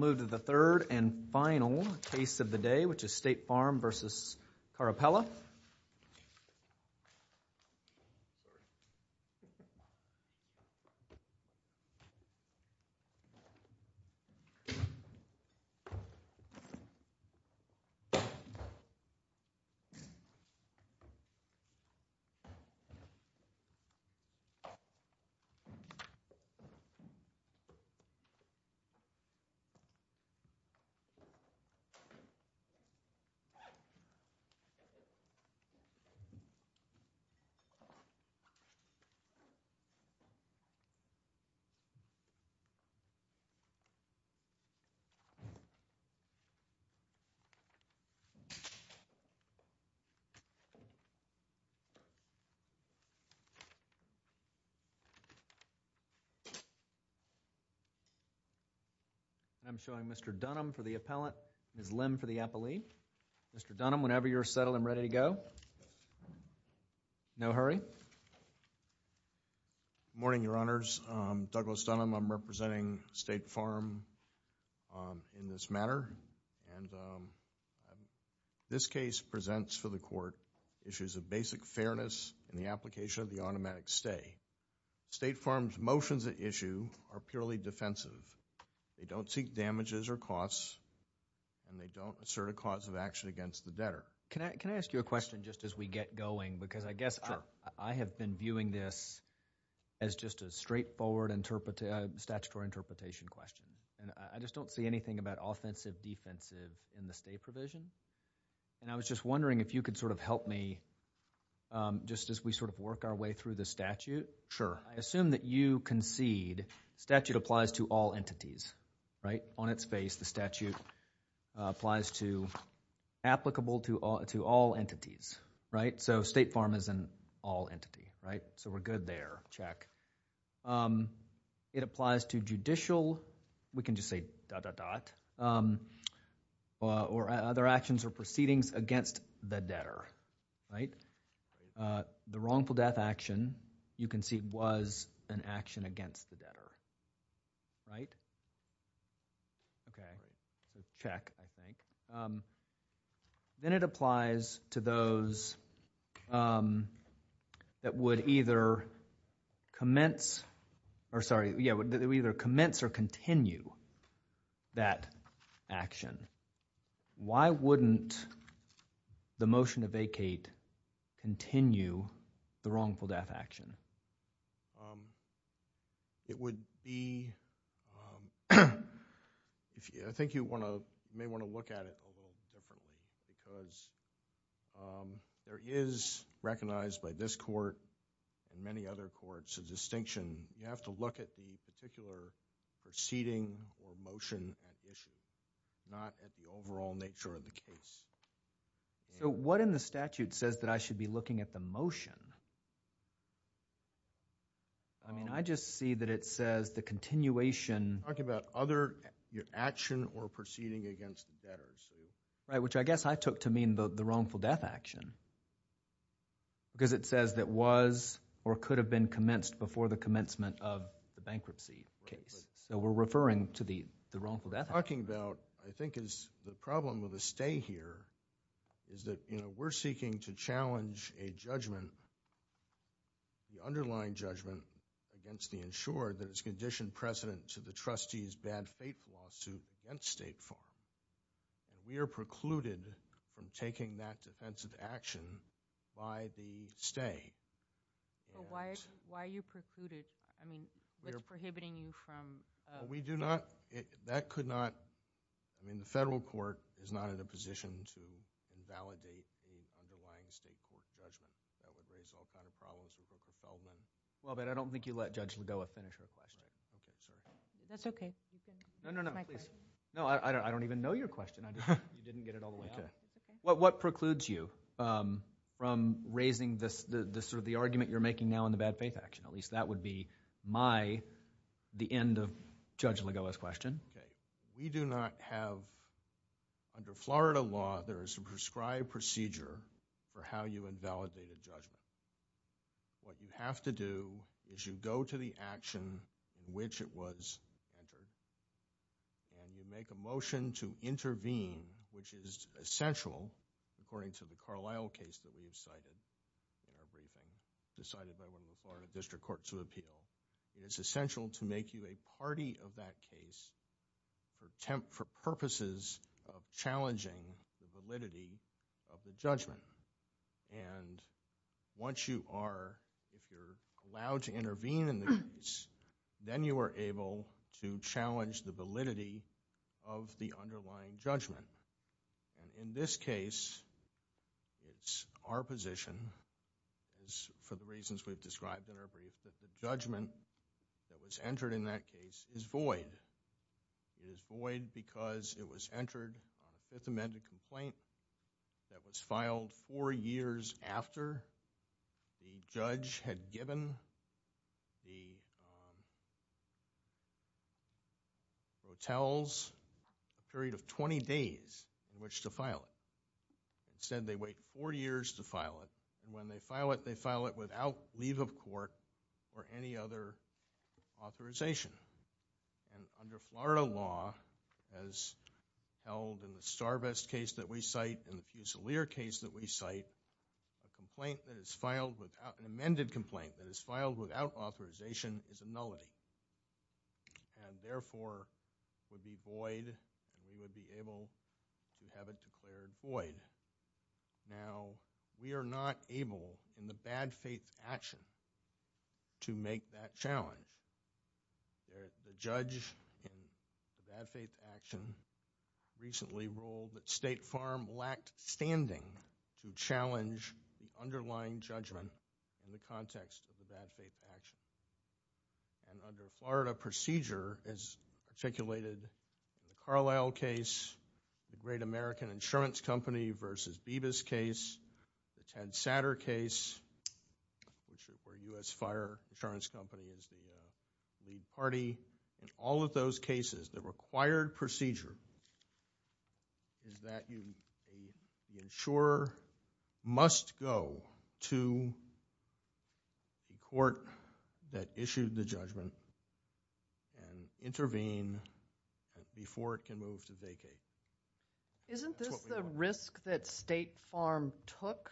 Let's move to the third and final case of the day, which is State Farm v. Carapella. State Farm v. Dawn Carapella We're joined by Mr. Dunham for the appellant, Ms. Lim for the appellee. Mr. Dunham, whenever you're settled and ready to go. No hurry. Good morning, Your Honors. I'm Douglas Dunham. I'm representing State Farm in this matter. This case presents for the Court issues of basic fairness in the application of the automatic stay. State Farm's motions at issue are purely defensive. They don't seek damages or costs, and they don't assert a cause of action against the debtor. Can I ask you a question just as we get going? Because I guess I have been viewing this as just a straightforward statutory interpretation question. And I just don't see anything about offensive, defensive in the stay provision. And I was just wondering if you could sort of help me just as we sort of work our way through the statute. Sure. I assume that you concede statute applies to all entities, right? On its face, the statute applies to applicable to all entities, right? So State Farm is an all entity, right? So we're good there. Check. It applies to judicial, we can just say dot, dot, dot, or other actions or proceedings against the debtor, right? The wrongful death action, you can see, was an action against the debtor, right? Okay. Check, I think. Then it applies to those that would either commence or continue that action. Why wouldn't the motion to vacate continue the wrongful death action? It would be, I think you may want to look at it a little differently. Because there is, recognized by this court and many other courts, a distinction. You have to look at the particular proceeding or motion at issue, not at the overall nature of the case. So what in the statute says that I should be looking at the motion? I mean, I just see that it says the continuation. I'm talking about other action or proceeding against the debtor. Right, which I guess I took to mean the wrongful death action. Because it says that was or could have been commenced before the commencement of the bankruptcy case. So we're referring to the wrongful death action. What we're talking about, I think, is the problem with a stay here is that we're seeking to challenge a judgment, the underlying judgment against the insured that is conditioned precedent to the trustee's bad faith lawsuit against State Farm. We are precluded from taking that defensive action by the stay. But why are you precluded? I mean, what's prohibiting you from... We do not... that could not... I mean, the federal court is not in a position to invalidate the underlying state court judgment. That would raise all kinds of problems with the settlement. Well, but I don't think you let Judge Lidoa finish her question. That's okay. No, no, no, please. No, I don't even know your question. You didn't get it all the way out. What precludes you from raising the argument you're making now in the bad faith action? At least that would be my, the end of Judge Lidoa's question. We do not have... under Florida law, there is a prescribed procedure for how you invalidate a judgment. What you have to do is you go to the action in which it was entered, and you make a motion to intervene, which is essential, according to the Carlisle case that we've cited, and everything decided by one of the Florida District Courts of Appeal. It is essential to make you a party of that case for purposes of challenging the validity of the judgment. And once you are, if you're allowed to intervene in the case, then you are able to challenge the validity of the underlying judgment. And in this case, it's our position, for the reasons we've described in our brief, that the judgment that was entered in that case is void. It is void because it was entered on a Fifth Amendment complaint that was filed four years after the judge had given the hotels a period of 20 days in which to file it. Instead, they wait four years to file it. And when they file it, they file it without leave of court or any other authorization. And under Florida law, as held in the Starvest case that we cite and the Fusilier case that we cite, a complaint that is filed without, an amended complaint that is filed without authorization is a nullity. And therefore, would be void, and we would be able to have it declared void. Now, we are not able in the bad faith action to make that challenge. The judge in the bad faith action recently ruled that State Farm lacked standing to challenge the underlying judgment in the context of the bad faith action. And under Florida procedure, as articulated in the Carlisle case, the Great American Insurance Company v. Bebas case, the Ted Satter case, which is where U.S. Fire Insurance Company is the lead party, in all of those cases, the required procedure is that the insurer must go to the court that issued the judgment and intervene before it can move to vacate. Isn't this the risk that State Farm took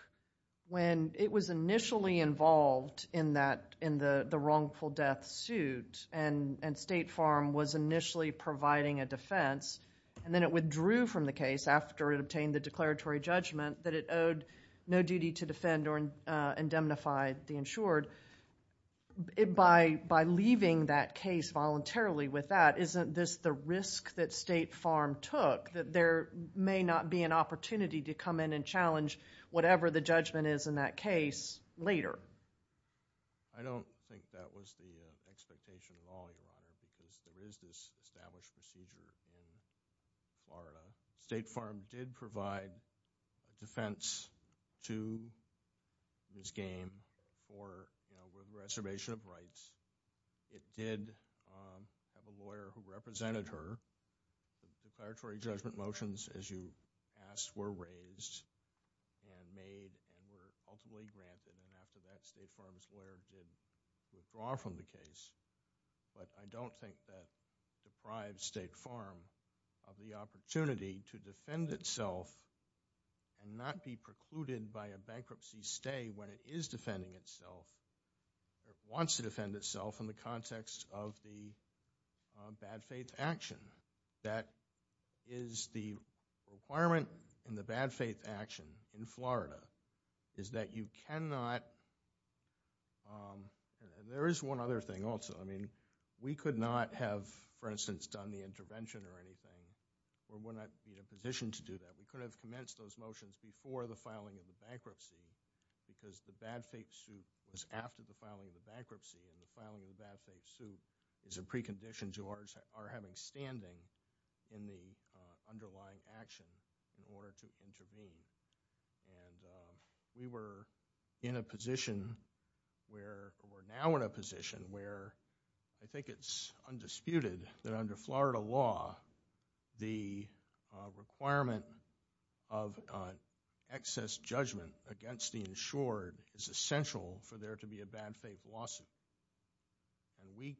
when it was initially involved in the wrongful death suit and State Farm was initially providing a defense and then it withdrew from the case after it obtained the declaratory judgment that it owed no duty to defend or indemnify the insured? By leaving that case voluntarily with that, isn't this the risk that State Farm took that there may not be an opportunity to come in and challenge whatever the judgment is in that case later? I don't think that was the expectation at all, Your Honor, because there is this established procedure in Florida. State Farm did provide defense to this game for reservation of rights. It did have a lawyer who represented her. The declaratory judgment motions, as you asked, were raised and made and were ultimately granted. After that, State Farm's lawyer did withdraw from the case. But I don't think that deprived State Farm of the opportunity to defend itself and not be precluded by a bankruptcy stay when it is defending itself, it wants to defend itself in the context of the bad faith action. That is the requirement in the bad faith action in Florida, is that you cannot – there is one other thing also. We could not have, for instance, done the intervention or anything or would not be in a position to do that. We could have commenced those motions before the filing of the bankruptcy because the bad faith suit was after the filing of the bankruptcy and the filing of the bad faith suit is a precondition to our having standing in the underlying action in order to intervene. We were in a position where – we're now in a position where I think it's undisputed that under Florida law, the requirement of excess judgment against the insured is essential for there to be a bad faith lawsuit. And we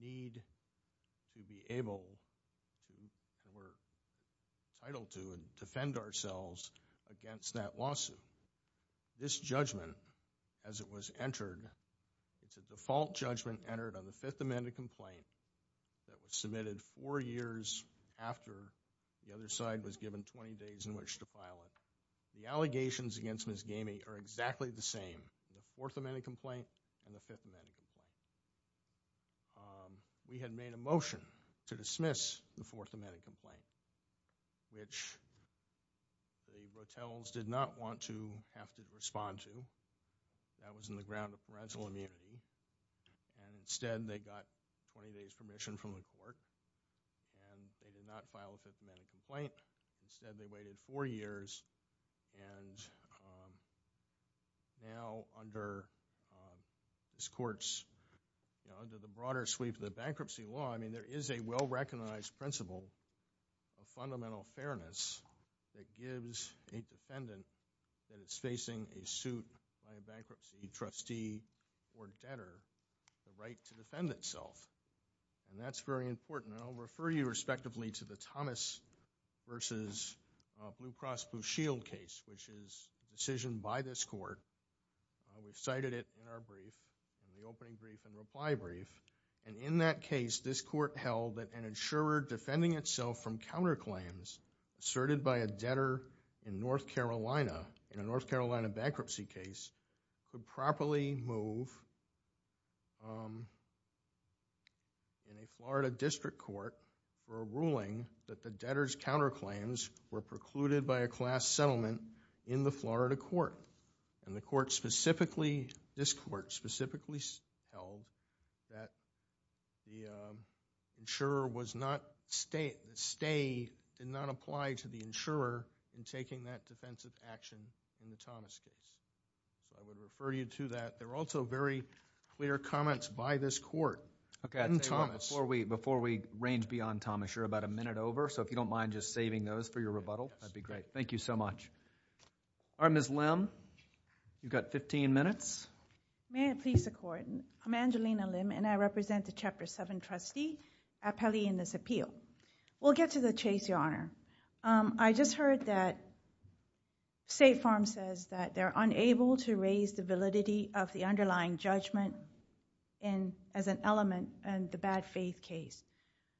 need to be able – we're entitled to and defend ourselves against that lawsuit. This judgment, as it was entered, it's a default judgment entered on the Fifth Amendment complaint that was submitted four years after the other side was given 20 days in which to file it. The allegations against Ms. Gamey are exactly the same. The Fourth Amendment complaint and the Fifth Amendment complaint. We had made a motion to dismiss the Fourth Amendment complaint, which the hotels did not want to have to respond to. That was in the ground of parental immunity. And instead, they got 20 days' permission from the court and they did not file the Fifth Amendment complaint. Instead, they waited four years. And now, under this court's – under the broader sweep of the bankruptcy law, I mean, there is a well-recognized principle of fundamental fairness that gives a defendant that is facing a suit by a bankruptcy trustee or debtor the right to defend itself. And that's very important. And I'll refer you respectively to the Thomas v. Blue Cross Blue Shield case, which is a decision by this court. We've cited it in our brief, in the opening brief and reply brief. And in that case, this court held that an insurer defending itself from counterclaims asserted by a debtor in North Carolina, in a North Carolina bankruptcy case, could properly move in a Florida district court for a ruling that the debtor's counterclaims were precluded by a class settlement in the Florida court. And the court specifically – this court specifically held that the insurer was not – I would refer you to that. There were also very clear comments by this court in Thomas. Okay, I'll tell you what, before we range beyond Thomas, you're about a minute over, so if you don't mind just saving those for your rebuttal, that'd be great. Thank you so much. All right, Ms. Lim, you've got 15 minutes. May I please support? I'm Angelina Lim, and I represent the Chapter 7 trustee at Pelley in this appeal. We'll get to the chase, Your Honor. I just heard that State Farm says that they're unable to raise the validity of the underlying judgment as an element in the bad-faith case.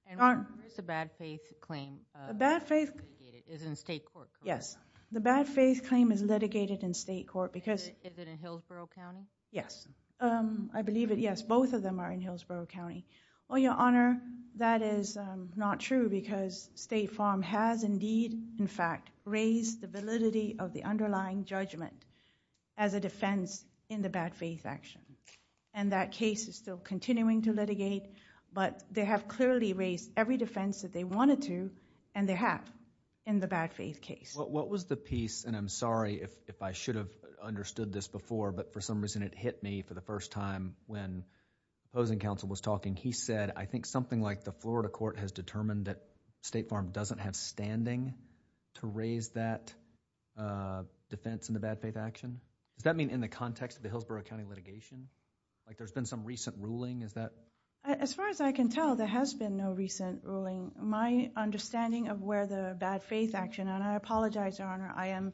And where's the bad-faith claim? The bad-faith claim is litigated in state court. Yes, the bad-faith claim is litigated in state court because – Is it in Hillsborough County? Yes, I believe it, yes. Both of them are in Hillsborough County. Well, Your Honor, that is not true because State Farm has indeed, in fact, raised the validity of the underlying judgment as a defense in the bad-faith action. And that case is still continuing to litigate, but they have clearly raised every defense that they wanted to, and they have in the bad-faith case. What was the piece, and I'm sorry if I should have understood this before, but for some reason it hit me for the first time when opposing counsel was talking. He said, I think something like the Florida court has determined that State Farm doesn't have standing to raise that defense in the bad-faith action. Does that mean in the context of the Hillsborough County litigation? Like there's been some recent ruling? As far as I can tell, there has been no recent ruling. My understanding of where the bad-faith action, and I apologize, Your Honor, I am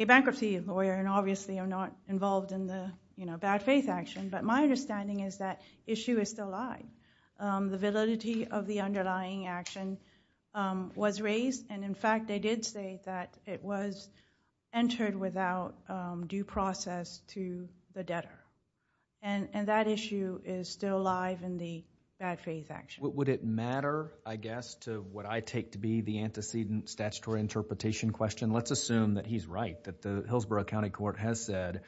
a bankruptcy lawyer and obviously I'm not involved in the bad-faith action, but my understanding is that issue is still alive. The validity of the underlying action was raised, and in fact they did say that it was entered without due process to the debtor. And that issue is still alive in the bad-faith action. Would it matter, I guess, to what I take to be the antecedent statutory interpretation question? Let's assume that he's right, that the Hillsborough County Court has said,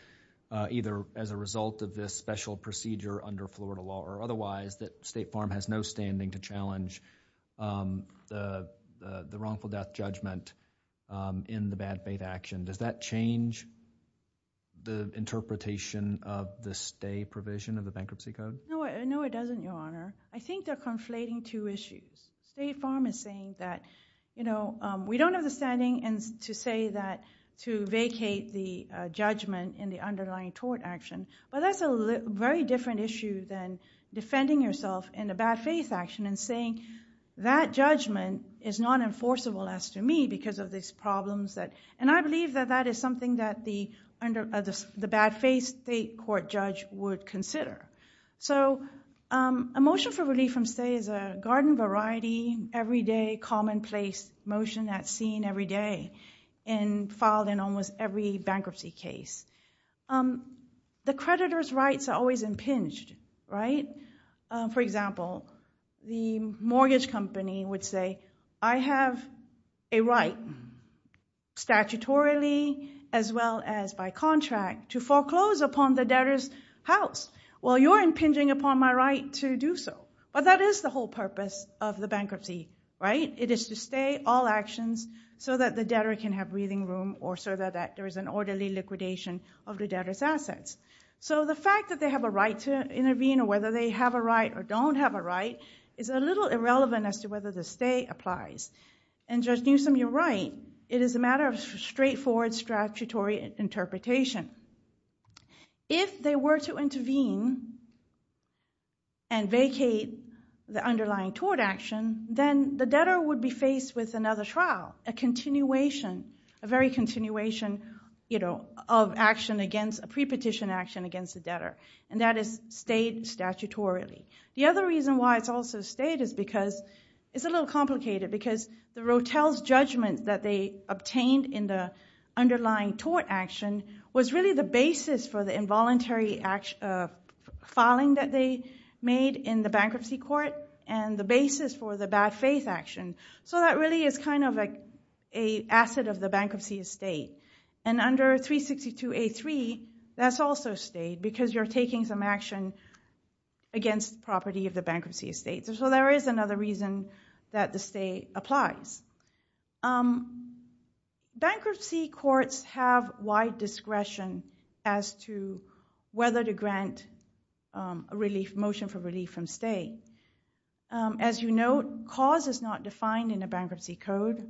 either as a result of this special procedure under Florida law or otherwise, that State Farm has no standing to challenge the wrongful death judgment in the bad-faith action. Does that change the interpretation of the stay provision of the bankruptcy code? No, it doesn't, Your Honor. I think they're conflating two issues. State Farm is saying that we don't have the standing to say that to vacate the judgment in the underlying tort action. But that's a very different issue than defending yourself in a bad-faith action and saying that judgment is not enforceable as to me because of these problems. And I believe that that is something that the bad-faith state court judge would consider. So a motion for relief from stay is a garden variety, everyday, commonplace motion that's seen every day and filed in almost every bankruptcy case. The creditor's rights are always impinged, right? For example, the mortgage company would say, I have a right statutorily as well as by contract to foreclose upon the debtor's house. Well, you're impinging upon my right to do so. But that is the whole purpose of the bankruptcy, right? It is to stay all actions so that the debtor can have breathing room or so that there is an orderly liquidation of the debtor's assets. So the fact that they have a right to intervene or whether they have a right or don't have a right is a little irrelevant as to whether the stay applies. And Judge Newsom, you're right. It is a matter of straightforward statutory interpretation. If they were to intervene and vacate the underlying tort action, then the debtor would be faced with another trial, a continuation, a very continuation of action against, a pre-petition action against the debtor. And that is stayed statutorily. The other reason why it's also stayed is because it's a little complicated because the Rotel's judgment that they obtained in the underlying tort action was really the basis for the involuntary filing that they made in the bankruptcy court and the basis for the bad faith action. So that really is kind of an asset of the bankruptcy estate. And under 362A3, that's also stayed because you're taking some action against property of the bankruptcy estate. So there is another reason that the stay applies. Bankruptcy courts have wide discretion as to whether to grant a motion for relief from stay. As you know, cause is not defined in a bankruptcy code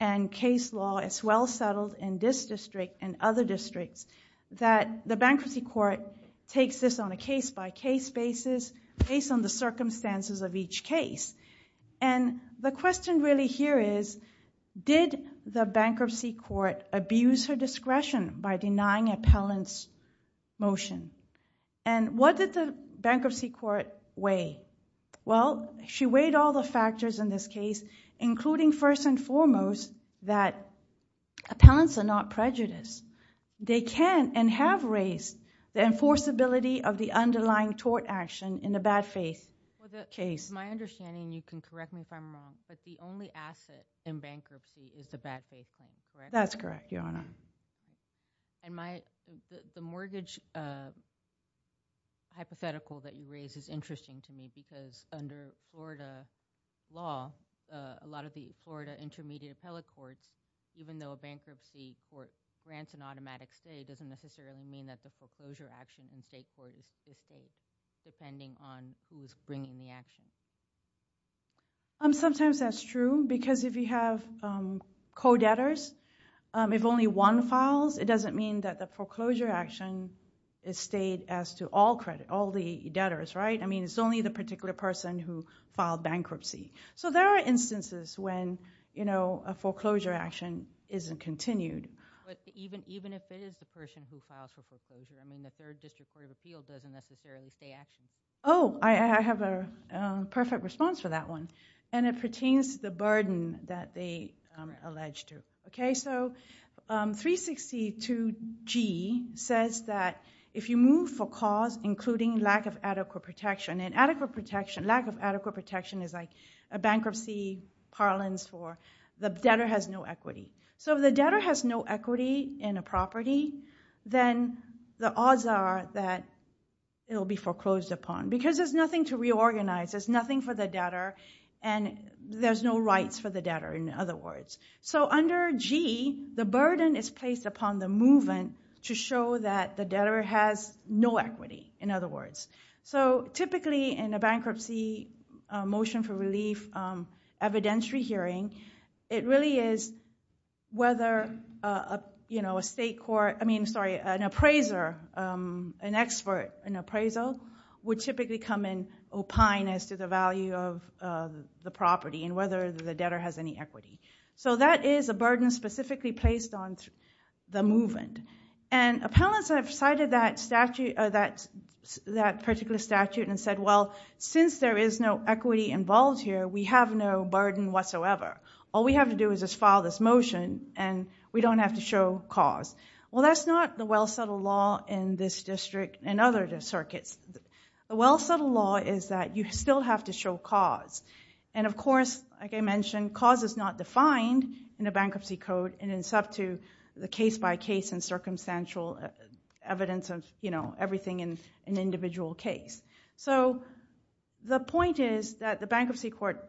and case law is well settled in this district and other districts that the bankruptcy court takes this on a case-by-case basis based on the circumstances of each case. And the question really here is, did the bankruptcy court abuse her discretion by denying appellant's motion? And what did the bankruptcy court weigh? Well, she weighed all the factors in this case, including first and foremost that appellants are not prejudiced. They can and have raised the enforceability of the underlying tort action in the bad faith case. My understanding, and you can correct me if I'm wrong, but the only asset in bankruptcy is the bad faith claim, correct? That's correct, Your Honor. And the mortgage hypothetical that you raise is interesting to me because under Florida law, a lot of the Florida intermediate appellate courts, even though a bankruptcy court grants an automatic stay, doesn't necessarily mean that the foreclosure action in state court is safe, depending on who's bringing the action. Sometimes that's true because if you have co-debtors, if only one files, it doesn't mean that the foreclosure action is stayed as to all credit, all the debtors, right? I mean, it's only the particular person who filed bankruptcy. So there are instances when a foreclosure action isn't continued. But even if it is the person who files for foreclosure, I mean, the Third District Court of Appeal doesn't necessarily stay active. Oh, I have a perfect response for that one, and it pertains to the burden that they allege to. So 362G says that if you move for cause including lack of adequate protection, and lack of adequate protection is like a bankruptcy parlance for the debtor has no equity. Then the odds are that it will be foreclosed upon. Because there's nothing to reorganize, there's nothing for the debtor, and there's no rights for the debtor, in other words. So under G, the burden is placed upon the movement to show that the debtor has no equity, in other words. So typically in a bankruptcy motion for relief evidentiary hearing, it really is whether an appraiser, an expert in appraisal, would typically come and opine as to the value of the property, and whether the debtor has any equity. So that is a burden specifically placed on the movement. And appellants have cited that particular statute and said, well, since there is no equity involved here, we have no burden whatsoever. All we have to do is just file this motion, and we don't have to show cause. Well, that's not the well-settled law in this district and other circuits. The well-settled law is that you still have to show cause. And of course, like I mentioned, cause is not defined in a bankruptcy code, and it's up to the case-by-case and circumstantial evidence of, you know, everything in an individual case. So the point is that the bankruptcy court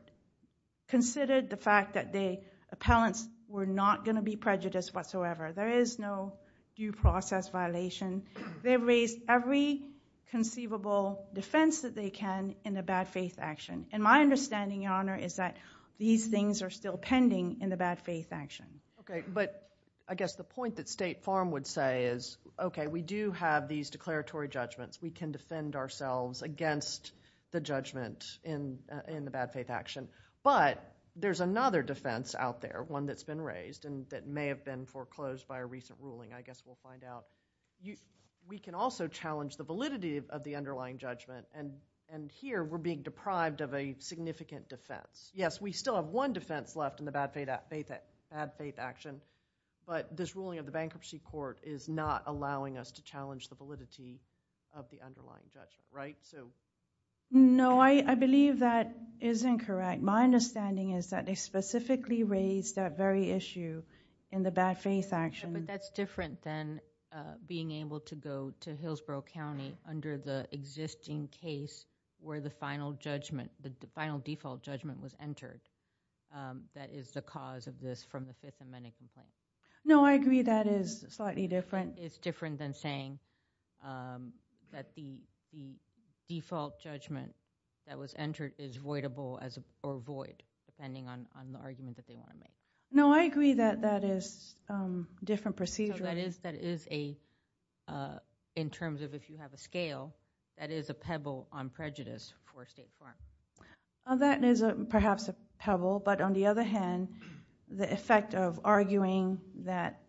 considered the fact that the appellants were not going to be prejudiced whatsoever. There is no due process violation. They've raised every conceivable defense that they can in a bad-faith action. And my understanding, Your Honor, is that these things are still pending in the bad-faith action. Okay, but I guess the point that State Farm would say is, okay, we do have these declaratory judgments. We can defend ourselves against the judgment in the bad-faith action. But there's another defense out there, one that's been raised and that may have been foreclosed by a recent ruling. I guess we'll find out. We can also challenge the validity of the underlying judgment, and here we're being deprived of a significant defense. Yes, we still have one defense left in the bad-faith action, but this ruling of the bankruptcy court is not allowing us to challenge the validity of the underlying judgment, right? No, I believe that is incorrect. My understanding is that they specifically raised that very issue in the bad-faith action. But that's different than being able to go to Hillsborough County under the existing case where the final judgment, the final default judgment was entered. That is the cause of this from the Fifth Amendment complaint. No, I agree that is slightly different. The Fifth Amendment is different than saying that the default judgment that was entered is voidable or void, depending on the argument that they want to make. No, I agree that that is a different procedure. So that is a, in terms of if you have a scale, that is a pebble on prejudice for State Farm. That is perhaps a pebble, but on the other hand, the effect of arguing that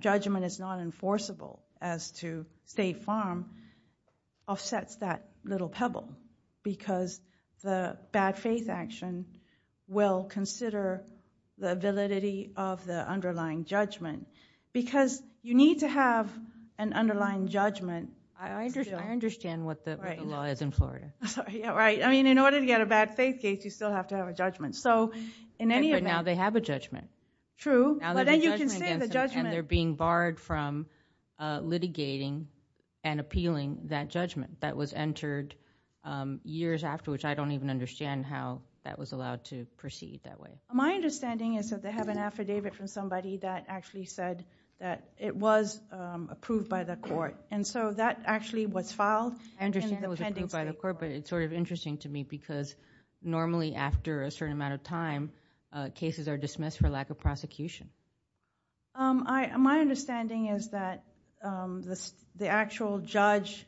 judgment is not enforceable as to State Farm offsets that little pebble because the bad-faith action will consider the validity of the underlying judgment because you need to have an underlying judgment. I understand what the law is in Florida. In order to get a bad-faith case, you still have to have a judgment. But now they have a judgment. True, but then you can say the judgment. And they're being barred from litigating and appealing that judgment that was entered years after, which I don't even understand how that was allowed to proceed that way. My understanding is that they have an affidavit from somebody that actually said that it was approved by the court. And so that actually was filed in the pending State Farm. But it's sort of interesting to me because normally, after a certain amount of time, cases are dismissed for lack of prosecution. My understanding is that the actual judge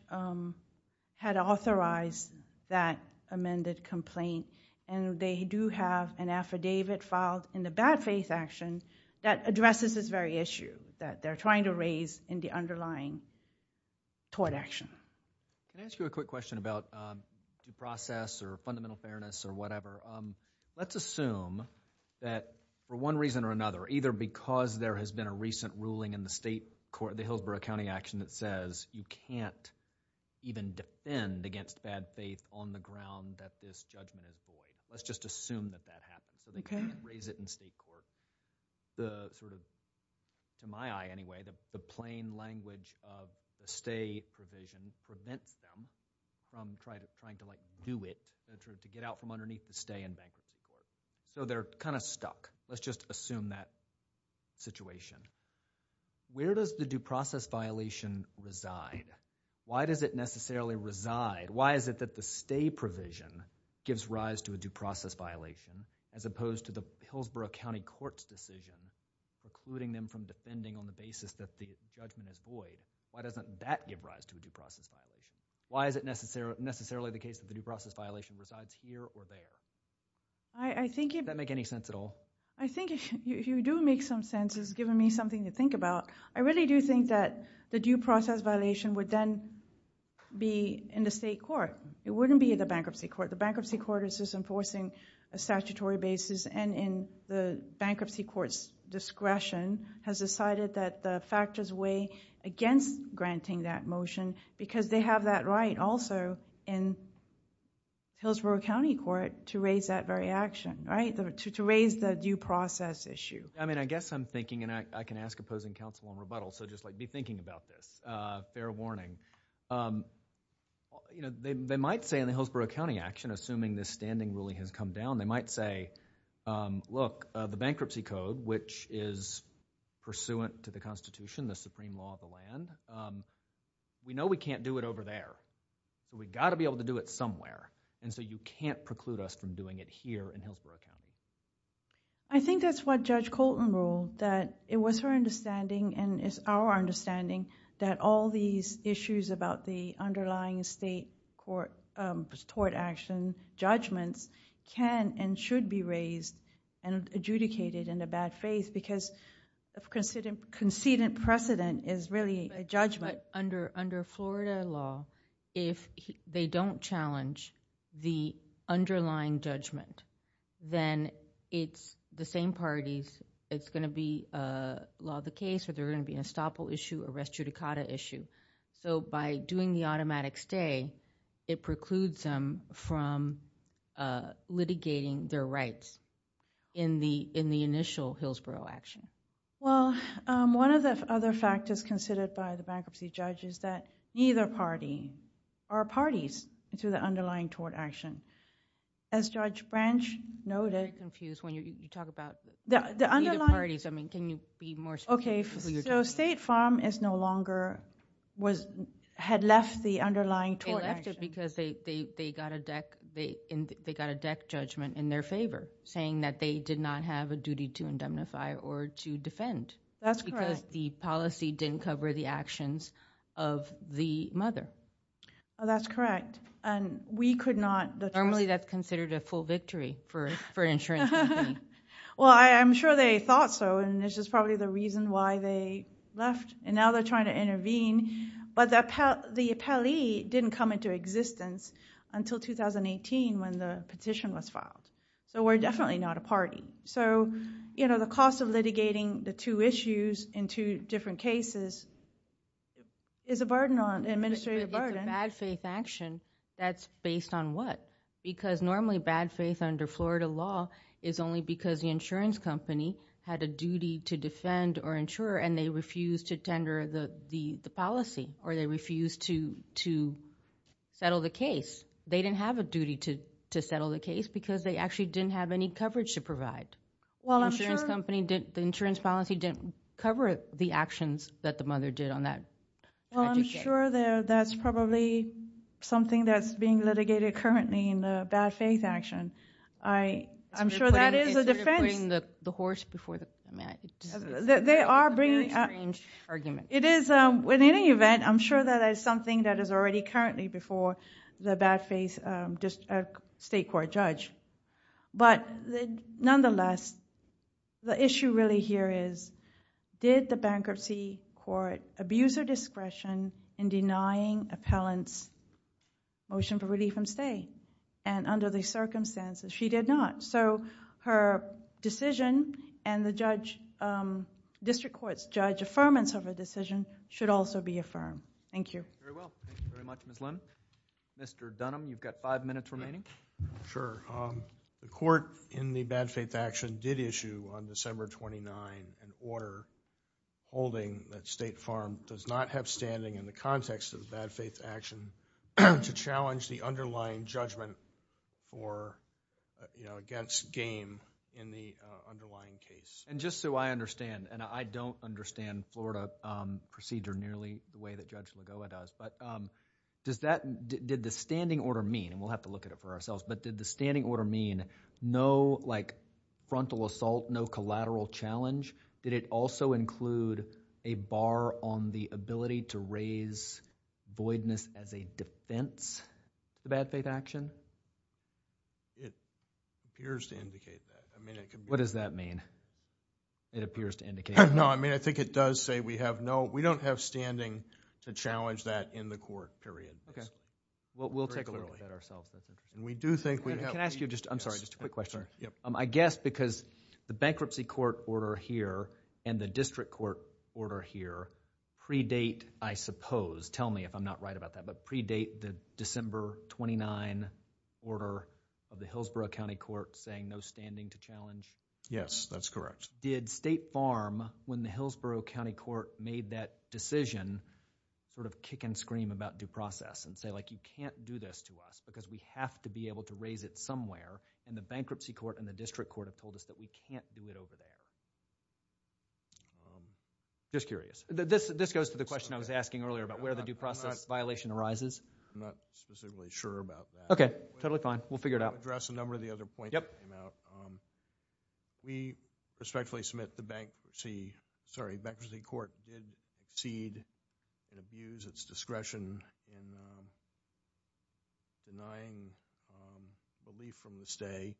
had authorized that amended complaint. And they do have an affidavit filed in the bad-faith action that addresses this very issue that they're trying to raise in the underlying tort action. Can I ask you a quick question about due process or fundamental fairness or whatever? Let's assume that, for one reason or another, either because there has been a recent ruling in the state court, the Hillsborough County action that says you can't even defend against bad faith on the ground that this judgment is void. Let's just assume that that happens. So they can't raise it in state court. The sort of, to my eye anyway, the plain language of the stay provision prevents them from trying to, like, do it, to get out from underneath the stay in bankruptcy court. So they're kind of stuck. Let's just assume that situation. Where does the due process violation reside? Why does it necessarily reside? Why is it that the stay provision gives rise to a due process violation as opposed to the Hillsborough County Court's decision precluding them from defending on the basis that the judgment is void? Why doesn't that give rise to a due process violation? Why is it necessarily the case that the due process violation resides here or there? Does that make any sense at all? I think if you do make some sense, it's given me something to think about. I really do think that the due process violation would then be in the state court. It wouldn't be in the bankruptcy court. The bankruptcy court is just enforcing a statutory basis and in the bankruptcy court's discretion has decided that the factors weigh against granting that motion because they have that right also in Hillsborough County Court to raise that very action, right? To raise the due process issue. I mean, I guess I'm thinking, and I can ask opposing counsel in rebuttal, so just, like, be thinking about this. Fair warning. You know, they might say in the Hillsborough County action, assuming this standing ruling has come down, they might say, look, the bankruptcy code, which is pursuant to the Constitution, the supreme law of the land, we know we can't do it over there, but we've got to be able to do it somewhere, and so you can't preclude us from doing it here in Hillsborough County. I think that's what Judge Colton ruled, that it was her understanding and it's our understanding that all these issues about the underlying state court action judgments can and should be raised and adjudicated in the bad faith because of conceded precedent is really a judgment. But under Florida law, if they don't challenge the underlying judgment, then it's the same parties. It's going to be a law of the case or they're going to be an estoppel issue, a res judicata issue, so by doing the automatic stay, it precludes them from litigating their rights in the initial Hillsborough action. Well, one of the other factors considered by the bankruptcy judge is that neither party or parties to the underlying tort action. As Judge Branch noted... I'm very confused when you talk about... The underlying... Neither parties, I mean, can you be more specific? Okay, so State Farm is no longer... Had left the underlying tort action. They left it because they got a deck judgment in their favor, saying that they did not have a duty to indemnify or to defend. That's correct. Because the policy didn't cover the actions of the mother. That's correct, and we could not... Normally, that's considered a full victory for an insurance company. Well, I'm sure they thought so, and now they're trying to intervene, but the appellee didn't come into existence until 2018 when the petition was filed. We're definitely not a party. The cost of litigating the two issues in two different cases is a burden on... an administrative burden. It's a bad faith action. That's based on what? Because normally, bad faith under Florida law is only because the insurance company had a duty to defend or insure, and they refused to tender the policy, or they refused to settle the case. They didn't have a duty to settle the case because they actually didn't have any coverage to provide. The insurance policy didn't cover the actions that the mother did on that. I'm sure that's probably something that's being litigated currently in the bad faith action. I'm sure that is a defense... Instead of putting the horse before the... They are bringing... It's a very strange argument. In any event, I'm sure that is something that is already currently before the bad faith state court judge. Nonetheless, the issue really here is, did the bankruptcy court abuse her discretion in denying appellant's motion for relief from stay? Under the circumstances, she did not. Her decision and the district court's judge's affirmance of her decision should also be affirmed. Thank you. Very well. Thank you very much, Ms. Lim. Mr. Dunham, you've got five minutes remaining. Sure. The court in the bad faith action did issue on December 29th an order holding that State Farm does not have standing in the context of the bad faith action to challenge the underlying judgment against game in the underlying case. Just so I understand, and I don't understand Florida procedure nearly the way that Judge Lagoa does, but did the standing order mean, and we'll have to look at it for ourselves, but did the standing order mean no frontal assault, no collateral challenge? Did it also include a bar on the ability to raise voidness as a defense to bad faith action? It appears to indicate that. What does that mean? It appears to indicate that. No, I mean, I think it does say we have no, we don't have standing to challenge that in the court, period. Okay. We'll take a look at that ourselves. Can I ask you just, I'm sorry, just a quick question. I guess because the bankruptcy court order here and the district court order here predate, I suppose, tell me if I'm not right about that, but predate the December 29 order of the Hillsborough County Court saying no standing to challenge? Yes, that's correct. Did State Farm, when the Hillsborough County Court made that decision, sort of kick and scream about due process and say, like, you can't do this to us because we have to be able to raise it somewhere, and the bankruptcy court and the district court have told us that we can't do it over there? Just curious. This goes to the question I was asking earlier about where the due process violation arises. I'm not specifically sure about that. Okay, totally fine. We'll figure it out. I'll address a number of the other points that came out. We respectfully submit the bankruptcy, sorry, bankruptcy court did cede and abuse its discretion in denying relief from the stay,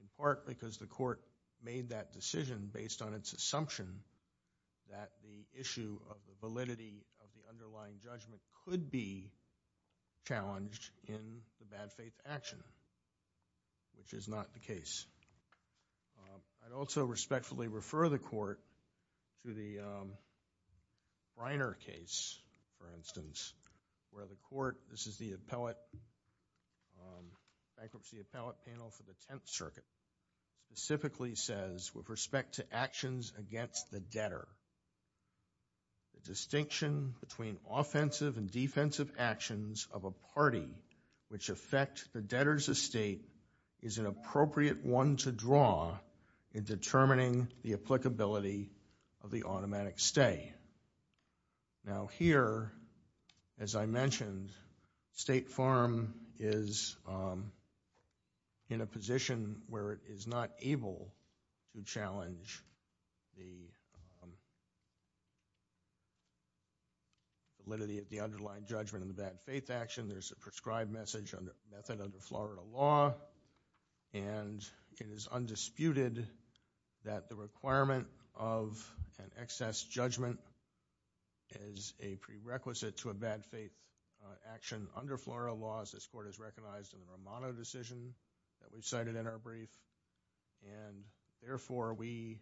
in part because the court made that decision based on its assumption that the issue of the validity of the underlying judgment could be challenged in the bad faith action, which is not the case. I'd also respectfully refer the court to the Briner case, for instance, where the court, this is the appellate, bankruptcy appellate panel for the Tenth Circuit, specifically says, with respect to actions against the debtor, the distinction between offensive and defensive actions of a party which affect the debtor's estate is an appropriate one to draw in determining the applicability of the automatic stay. Now here, as I mentioned, State Farm is in a position where it is not able to challenge the validity of the underlying judgment in the bad faith action. There's a prescribed message on the method of the Florida law, and it is undisputed that the requirement of an excess judgment is a prerequisite to a bad faith action under Florida laws. This court has recognized in the Romano decision that we've cited in our brief, and therefore we,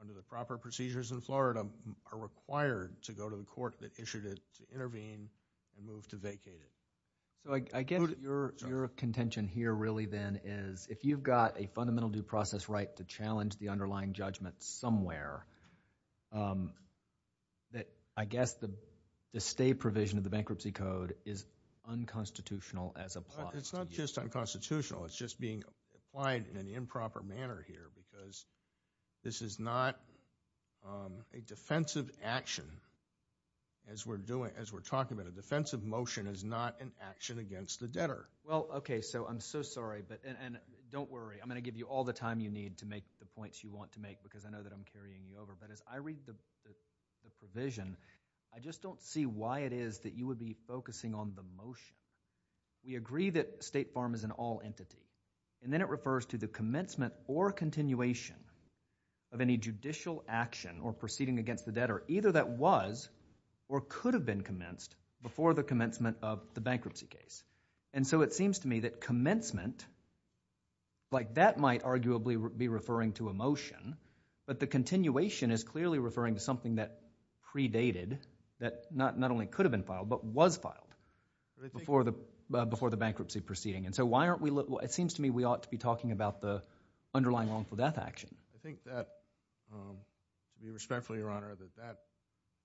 under the proper procedures in Florida, are required to go to the court that issued it to intervene and move to vacate it. I guess your contention here really then is, if you've got a fundamental due process right to challenge the underlying judgment somewhere, that I guess the stay provision of the bankruptcy code is unconstitutional as applied. It's not just unconstitutional. It's just being applied in an improper manner here because this is not a defensive action. As we're talking about it, a defensive motion is not an action against the debtor. Well, okay, so I'm so sorry, and don't worry. I'm going to give you all the time you need to make the points you want to make because I know that I'm carrying you over. But as I read the provision, I just don't see why it is that you would be focusing on the motion. We agree that State Farm is an all-entity, and then it refers to the commencement or continuation of any judicial action or proceeding against the debtor either that was or could have been commenced before the commencement of the bankruptcy case. And so it seems to me that commencement, like that might arguably be referring to a motion, but the continuation is clearly referring to something that predated, that not only could have been filed, but was filed before the bankruptcy proceeding. And so why aren't we looking, it seems to me we ought to be talking about the underlying wrongful death action. I think that, to be respectful, Your Honor, that that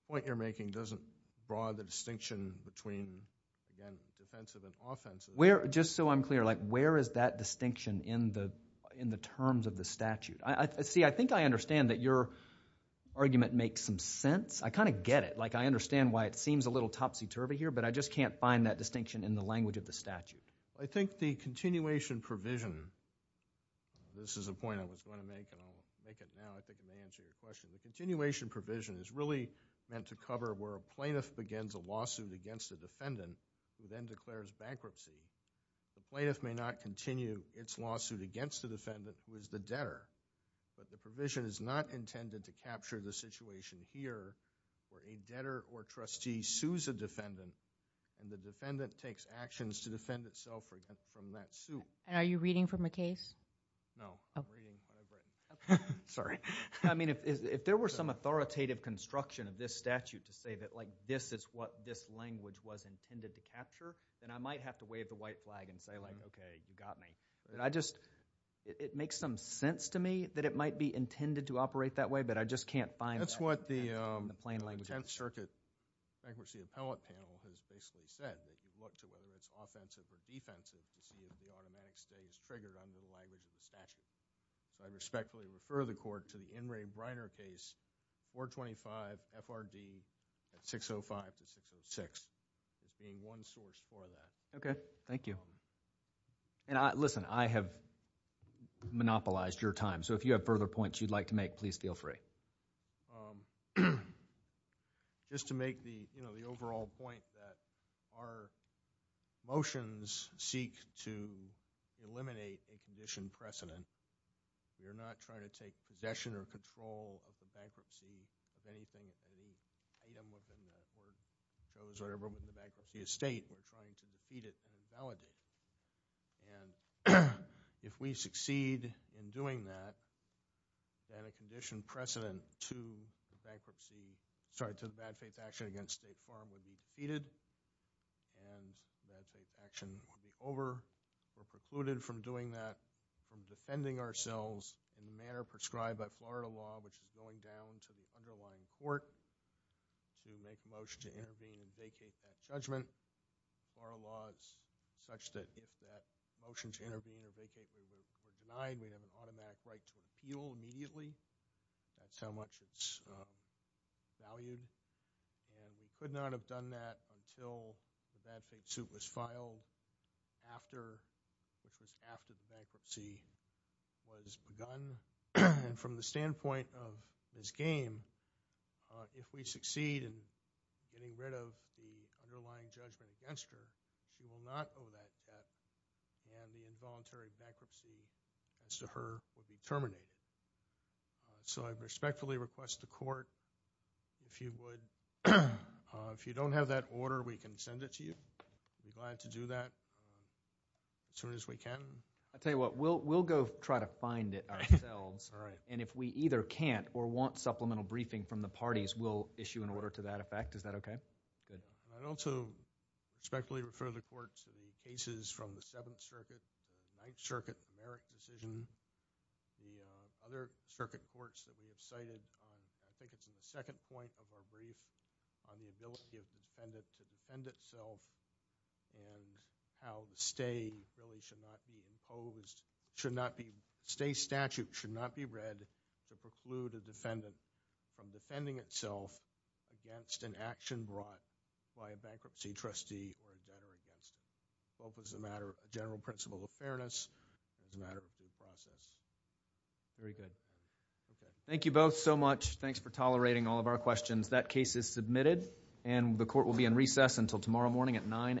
point you're making doesn't draw the distinction between, again, defensive and offensive. Just so I'm clear, where is that distinction in the terms of the statute? See, I think I understand that your argument makes some sense. I kind of get it. I understand why it seems a little topsy-turvy here, but I just can't find that distinction in the language of the statute. I think the continuation provision, this is a point I was going to make, and I'll make it now. I think it may answer your question. The continuation provision is really meant to cover where a plaintiff begins a lawsuit against a defendant who then declares bankruptcy. The plaintiff may not continue its lawsuit against the defendant who is the debtor, but the provision is not intended to capture the situation here where a debtor or trustee sues a defendant and the defendant takes actions to defend itself from that suit. And are you reading from a case? No. Sorry. I mean, if there were some authoritative construction of this statute to say that, like, this is what this language was intended to capture, then I might have to wave the white flag and say, like, okay, you got me. I just, it makes some sense to me that it might be intended to operate that way, but I just can't find that in the plain language. That's what the 10th Circuit Franklin C. Appellate Panel has basically said, that you look to whether it's offensive or defensive to see if the automatic stay is triggered under the language of the statute. I respectfully refer the Court to the In re Briner case 425 FRD 605 to 606 as being one source for that. Okay, thank you. And listen, I have monopolized your time, so if you have further points you'd like to make, please feel free. Just to make the overall point that our motions seek to eliminate a condition precedent. You're not trying to take possession or control of the bankruptcy of anything, any item of the network, those that are removed from the bankruptcy estate, you're trying to defeat it and invalidate it. And if we succeed in doing that, then a condition precedent to the bankruptcy, sorry, to the bad faith action against State Farm would be defeated, and the bad faith action would be over. We're precluded from doing that from defending ourselves in the manner prescribed by Florida law, which is going down to the underlying court to make a motion to intervene and vacate that judgment. Florida law is such that if that motion to intervene or vacate is denied, we have an automatic right to appeal immediately. That's how much it's valued. And we could not have done that until the bad faith suit was filed after the bankruptcy was begun. And from the standpoint of this game, if we succeed in getting rid of the underlying judgment against her, we will not owe that debt, and the involuntary bankruptcy as to her will be terminated. So I respectfully request the court, if you would, if you don't have that order, we can send it to you. I'd be glad to do that as soon as we can. I'll tell you what. We'll go try to find it ourselves, and if we either can't or want supplemental briefing from the parties, we'll issue an order to that effect. Is that okay? Good. I'd also respectfully refer the court to the cases from the Seventh Circuit, the Ninth Circuit, the Merrick decision, the other circuit courts that we have cited. I think it's in the second point of our brief on the ability of the defendant to defend itself and how the stay really should not be imposed, should not be, stay statute should not be read to preclude a defendant from defending itself against an action brought by a bankruptcy trustee or a debtor. Both as a matter of general principle of fairness and as a matter of due process. Very good. Thank you both so much. Thanks for tolerating all of our questions. That case is submitted, and the court will be in recess until tomorrow morning at 9 a.m. Thank you.